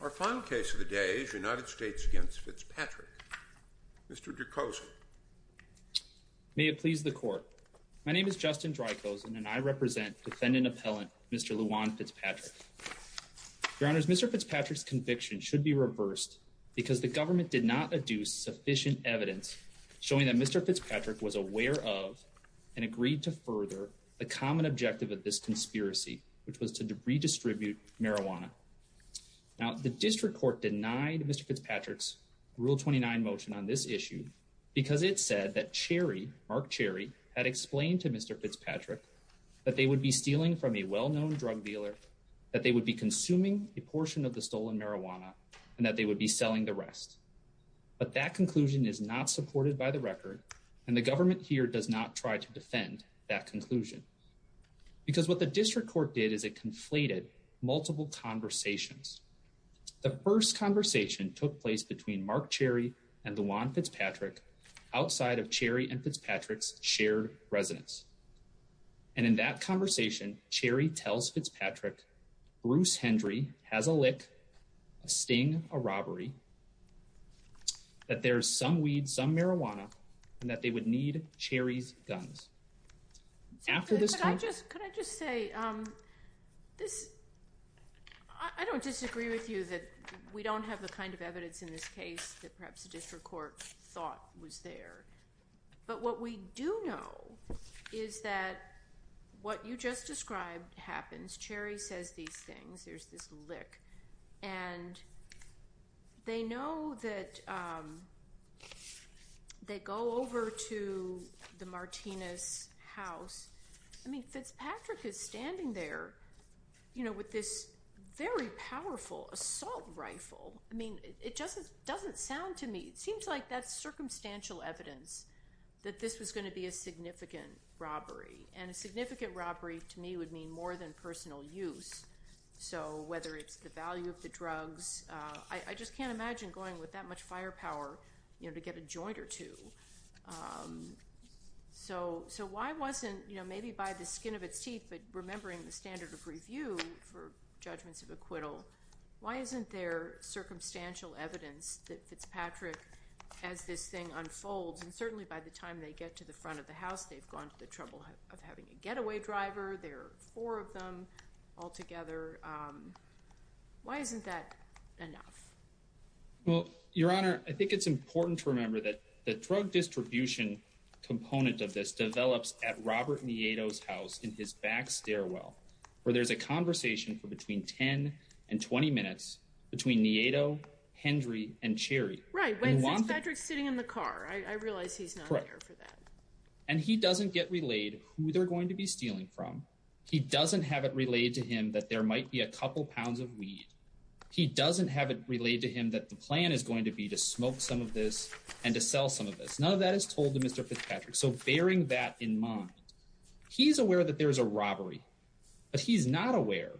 Our final case of the day is United States v. Fitzpatrick. Mr. Drykosen. May it please the Court. My name is Justin Drykosen and I represent defendant appellant Mr. Lajuan Fitzpatrick. Your Honors, Mr. Fitzpatrick's conviction should be reversed because the government did not adduce sufficient evidence showing that Mr. Fitzpatrick was aware of and agreed to further the common objective of this conspiracy, which was to redistribute marijuana. Now, the District Court denied Mr. Fitzpatrick's Rule 29 motion on this issue because it said that Cherry, Mark Cherry, had explained to Mr. Fitzpatrick that they would be stealing from a well-known drug dealer, that they would be consuming a portion of the stolen marijuana, and that they would be selling the rest. But that conclusion is not supported by the record, and the government here does not try to defend that conclusion. Because what the District Court did is it conflated multiple conversations. The first conversation took place between Mark Cherry and Lajuan Fitzpatrick outside of Cherry and Fitzpatrick's shared residence. And in that conversation, Cherry tells Fitzpatrick, Bruce Hendry has a lick, a sting, a robbery, that there's some weed, some marijuana, and that they would need Cherry's guns. Could I just say, I don't disagree with you that we don't have the kind of evidence in this case that perhaps the District Court thought was there. But what we do know is that what you just described happens. Cherry says these things. There's this lick. And they know that they go over to the Martinez house. I mean, Fitzpatrick is standing there, you know, with this very powerful assault rifle. I mean, it doesn't sound to me, it seems like that's circumstantial evidence that this was going to be a significant robbery. And a significant robbery to me would mean more than personal use. So whether it's the value of the drugs, I just can't imagine going with that much firepower, you know, to get a joint or two. So why wasn't, you know, maybe by the skin of its teeth, but remembering the standard of review for judgments of acquittal, why isn't there circumstantial evidence that Fitzpatrick, as this thing unfolds, and certainly by the time they get to the front of the house, they've gone to the trouble of having a getaway driver. There are four of them altogether. Why isn't that enough? Well, Your Honor, I think it's important to remember that the drug distribution component of this develops at Robert Nieto's house in his back stairwell, where there's a conversation for between 10 and 20 minutes between Nieto, Hendry and Cherry. Right. Fitzpatrick's sitting in the car. I realize he's not there for that. And he doesn't get relayed who they're going to be stealing from. He doesn't have it relayed to him that there might be a couple pounds of weed. He doesn't have it relayed to him that the plan is going to be to smoke some of this and to sell some of this. None of that is told to Mr. Fitzpatrick. So bearing that in mind, he's aware that there is a robbery, but he's not aware.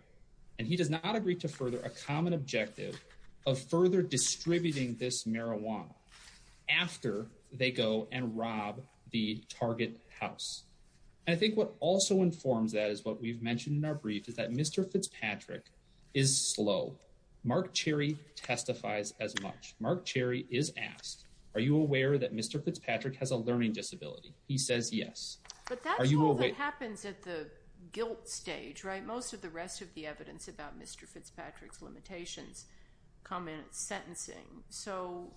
And he does not agree to further a common objective of further distributing this marijuana after they go and rob the target house. I think what also informs that is what we've mentioned in our brief is that Mr. Fitzpatrick is slow. Mark Cherry testifies as much. Mark Cherry is asked, are you aware that Mr. Fitzpatrick has a learning disability? He says yes. But that's what happens at the guilt stage, right? Most of the rest of the evidence about Mr. Fitzpatrick's limitations come in at sentencing. So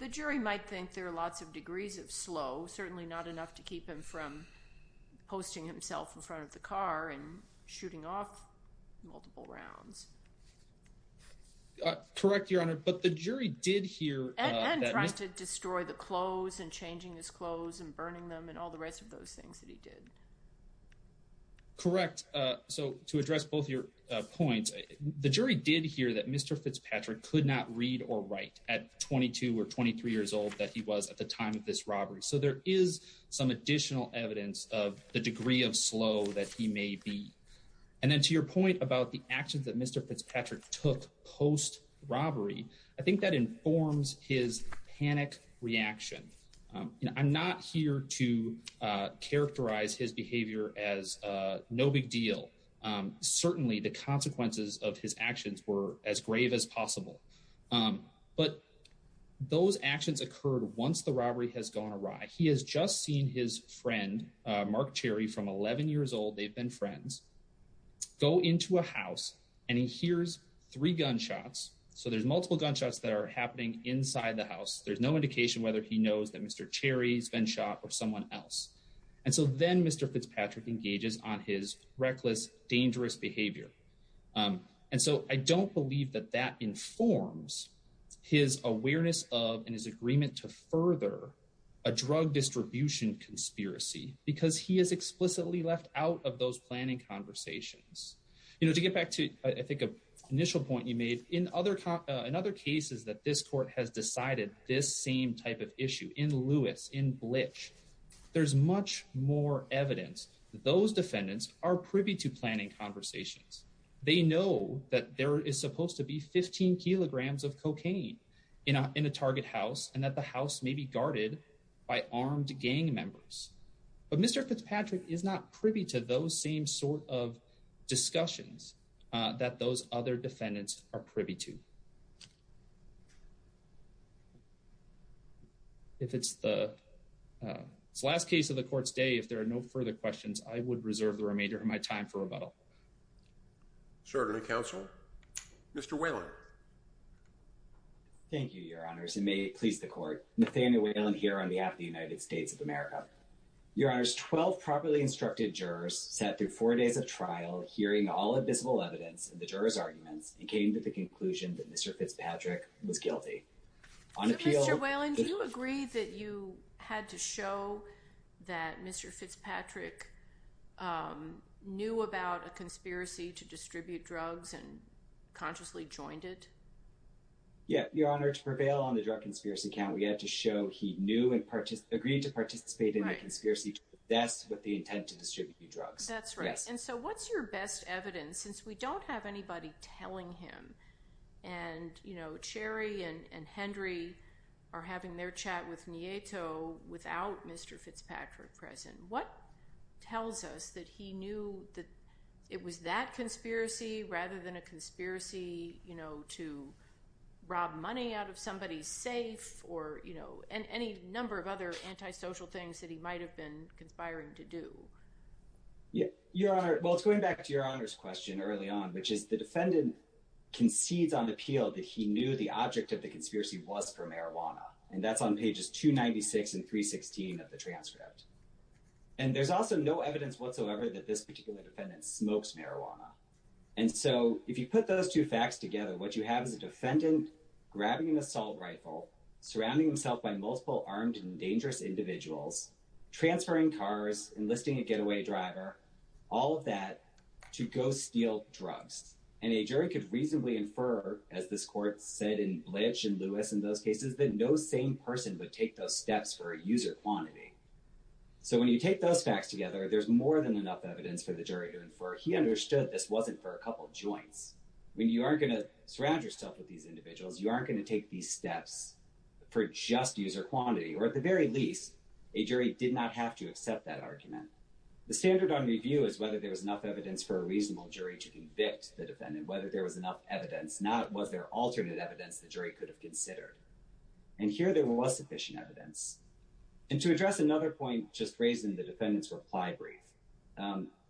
the jury might think there are lots of degrees of slow, certainly not enough to keep him from posting himself in front of the car and shooting off multiple rounds. Correct, Your Honor. But the jury did hear and tried to destroy the clothes and changing his clothes and burning them and all the rest of those things that he did. Correct. So to address both your points, the jury did hear that Mr. Fitzpatrick could not read or write at 22 or 23 years old that he was at the time of this robbery. So there is some additional evidence of the degree of slow that he may be. And then to your point about the actions that Mr. Fitzpatrick took post robbery, I think that informs his panic reaction. I'm not here to characterize his behavior as no big deal. Certainly the consequences of his actions were as grave as possible. But those actions occurred once the robbery has gone awry. He has just seen his friend, Mark Cherry, from 11 years old. They've been friends. Go into a house and he hears three gunshots. So there's multiple gunshots that are happening inside the house. There's no indication whether he knows that Mr. Cherry's been shot or someone else. And so then Mr. Fitzpatrick engages on his reckless, dangerous behavior. And so I don't believe that that informs his awareness of and his agreement to further a drug distribution conspiracy because he is explicitly left out of those planning conversations. You know, to get back to, I think, an initial point you made in other in other cases that this court has decided this same type of issue in Lewis in bleach, there's much more evidence. Those defendants are privy to planning conversations. They know that there is supposed to be 15 kilograms of cocaine in a target house and that the house may be guarded by armed gang members. But Mr. Fitzpatrick is not privy to those same sort of discussions that those other defendants are privy to. If it's the last case of the court's day, if there are no further questions, I would reserve the remainder of my time for rebuttal. Certainly, Counsel. Mr. Whalen. Thank you, Your Honors, and may it please the court. Nathaniel Whalen here on behalf of the United States of America. Your Honors, 12 properly instructed jurors sat through four days of trial hearing all the visible evidence of the jurors' arguments and came to the conclusion that Mr. Fitzpatrick was guilty. Mr. Whalen, do you agree that you had to show that Mr. Fitzpatrick knew about a conspiracy to distribute drugs and consciously joined it? Yeah, Your Honor, to prevail on the drug conspiracy count, we had to show he knew and agreed to participate in the conspiracy to the best with the intent to distribute drugs. That's right. And so what's your best evidence, since we don't have anybody telling him? And, you know, Cherry and Hendry are having their chat with Nieto without Mr. Fitzpatrick present. What tells us that he knew that it was that conspiracy rather than a conspiracy, you know, to rob money out of somebody's safe or, you know, any number of other antisocial things that he might have been conspiring to do? Yeah, Your Honor, well, it's going back to Your Honor's question early on, which is the defendant concedes on appeal that he knew the object of the conspiracy was for marijuana. And that's on pages 296 and 316 of the transcript. And there's also no evidence whatsoever that this particular defendant smokes marijuana. And so if you put those two facts together, what you have is a defendant grabbing an assault rifle, surrounding himself by multiple armed and dangerous individuals, transferring cars, enlisting a getaway driver, all of that to go steal drugs. And a jury could reasonably infer, as this court said in Blanche and Lewis in those cases, that no same person would take those steps for a user quantity. So when you take those facts together, there's more than enough evidence for the jury to infer he understood this wasn't for a couple of joints. When you aren't going to surround yourself with these individuals, you aren't going to take these steps for just user quantity, or at the very least, a jury did not have to accept that argument. The standard on review is whether there was enough evidence for a reasonable jury to convict the defendant, whether there was enough evidence, not was there alternate evidence the jury could have considered. And here there was sufficient evidence. And to address another point just raised in the defendant's reply brief,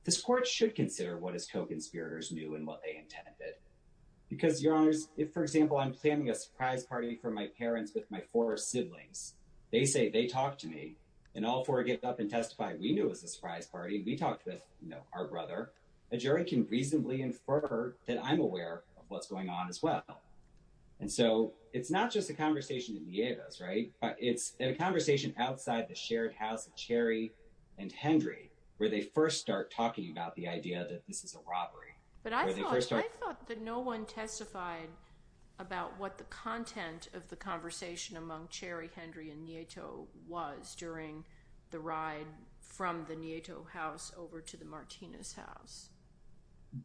this court should consider what his co-conspirators knew and what they intended. Because, Your Honors, if, for example, I'm planning a surprise party for my parents with my four siblings, they say they talked to me, and all four get up and testify we knew it was a surprise party, we talked with our brother, a jury can reasonably infer that I'm aware of what's going on as well. And so it's not just a conversation in Nieto's, right? It's a conversation outside the shared house of Cherry and Hendry where they first start talking about the idea that this is a robbery. But I thought that no one testified about what the content of the conversation among Cherry, Hendry, and Nieto was during the ride from the Nieto house over to the Martinez house.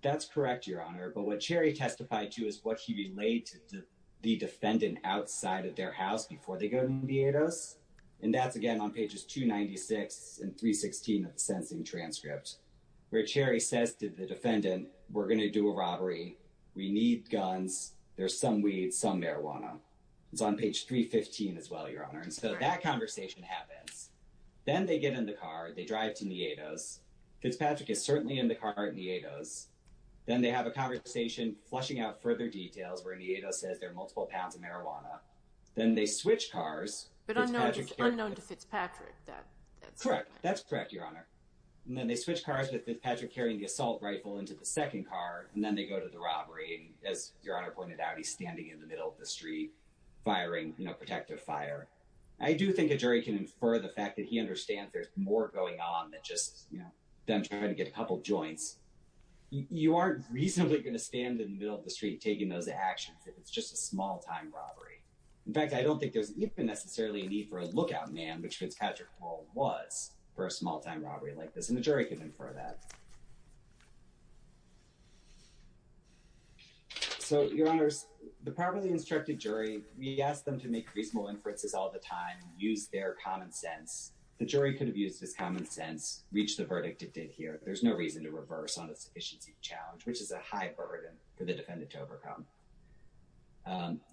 That's correct, Your Honor, but what Cherry testified to is what he relayed to the defendant outside of their house before they go to Nieto's. And that's again on pages 296 and 316 of the sentencing transcript, where Cherry says to the defendant, we're going to do a robbery. We need guns. There's some weed, some marijuana. It's on page 315 as well, Your Honor. And so that conversation happens. Then they get in the car, they drive to Nieto's. Fitzpatrick is certainly in the car at Nieto's. Then they have a conversation flushing out further details where Nieto says there are multiple pounds of marijuana. Then they switch cars. But it's unknown to Fitzpatrick. Correct. That's correct, Your Honor. And then they switch cars with Fitzpatrick carrying the assault rifle into the second car, and then they go to the robbery. As Your Honor pointed out, he's standing in the middle of the street firing, you know, protective fire. I do think a jury can infer the fact that he understands there's more going on than just, you know, them trying to get a couple joints. You aren't reasonably going to stand in the middle of the street taking those actions if it's just a small-time robbery. In fact, I don't think there's even necessarily a need for a lookout man, which Fitzpatrick was, for a small-time robbery like this. And the jury can infer that. So, Your Honors, the properly instructed jury, we asked them to make reasonable inferences all the time, use their common sense. The jury could have used this common sense, reached the verdict it did here. There's no reason to reverse on a sufficiency challenge, which is a high burden for the defendant to overcome.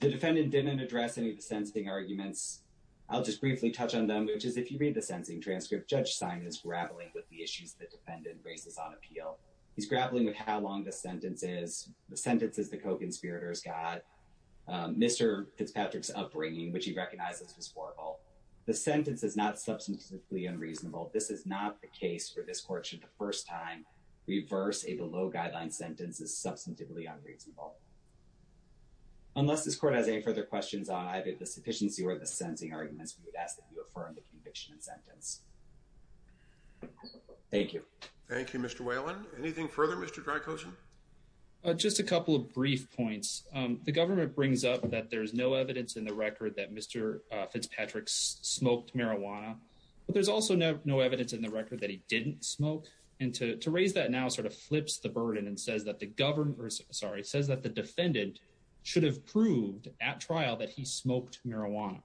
The defendant didn't address any of the sentencing arguments. I'll just briefly touch on them, which is if you read the sentencing transcript, Judge Simon is grappling with the issues the defendant raises on appeal. He's grappling with how long the sentence is, the sentences the co-conspirators got, Mr. Fitzpatrick's upbringing, which he recognizes was horrible. The sentence is not substantively unreasonable. This is not the case where this court should the first time reverse a below-guideline sentence is substantively unreasonable. Unless this court has any further questions on either the sufficiency or the sentencing arguments, we would ask that you affirm the conviction and sentence. Thank you. Thank you, Mr. Whalen. Anything further, Mr. Dracosa? Just a couple of brief points. The government brings up that there's no evidence in the record that Mr. Fitzpatrick smoked marijuana. But there's also no evidence in the record that he didn't smoke. And to raise that now sort of flips the burden and says that the defendant should have proved at trial that he smoked marijuana.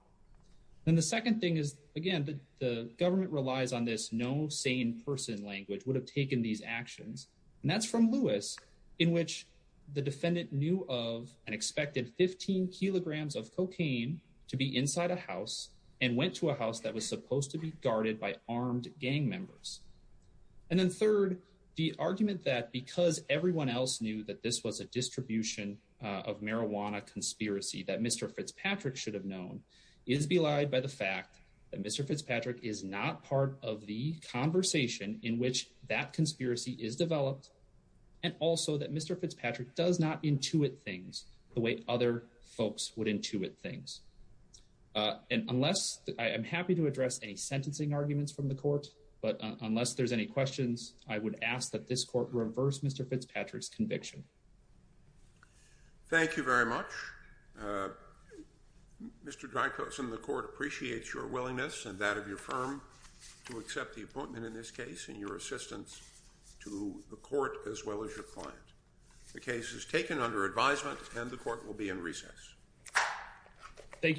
And the second thing is, again, the government relies on this no sane person language, would have taken these actions. And that's from Lewis, in which the defendant knew of and expected 15 kilograms of cocaine to be inside a house and went to a house that was supposed to be guarded by armed gang members. And then third, the argument that because everyone else knew that this was a distribution of marijuana conspiracy that Mr. Fitzpatrick should have known is belied by the fact that Mr. Fitzpatrick is not part of the conversation in which that conspiracy is developed. And also that Mr. Fitzpatrick does not intuit things the way other folks would intuit things. And unless, I'm happy to address any sentencing arguments from the court, but unless there's any questions, I would ask that this court reverse Mr. Fitzpatrick's conviction. Thank you very much. Mr. Dreykosen, the court appreciates your willingness and that of your firm to accept the appointment in this case and your assistance to the court as well as your client. The case is taken under advisement and the court will be in recess. Thank you.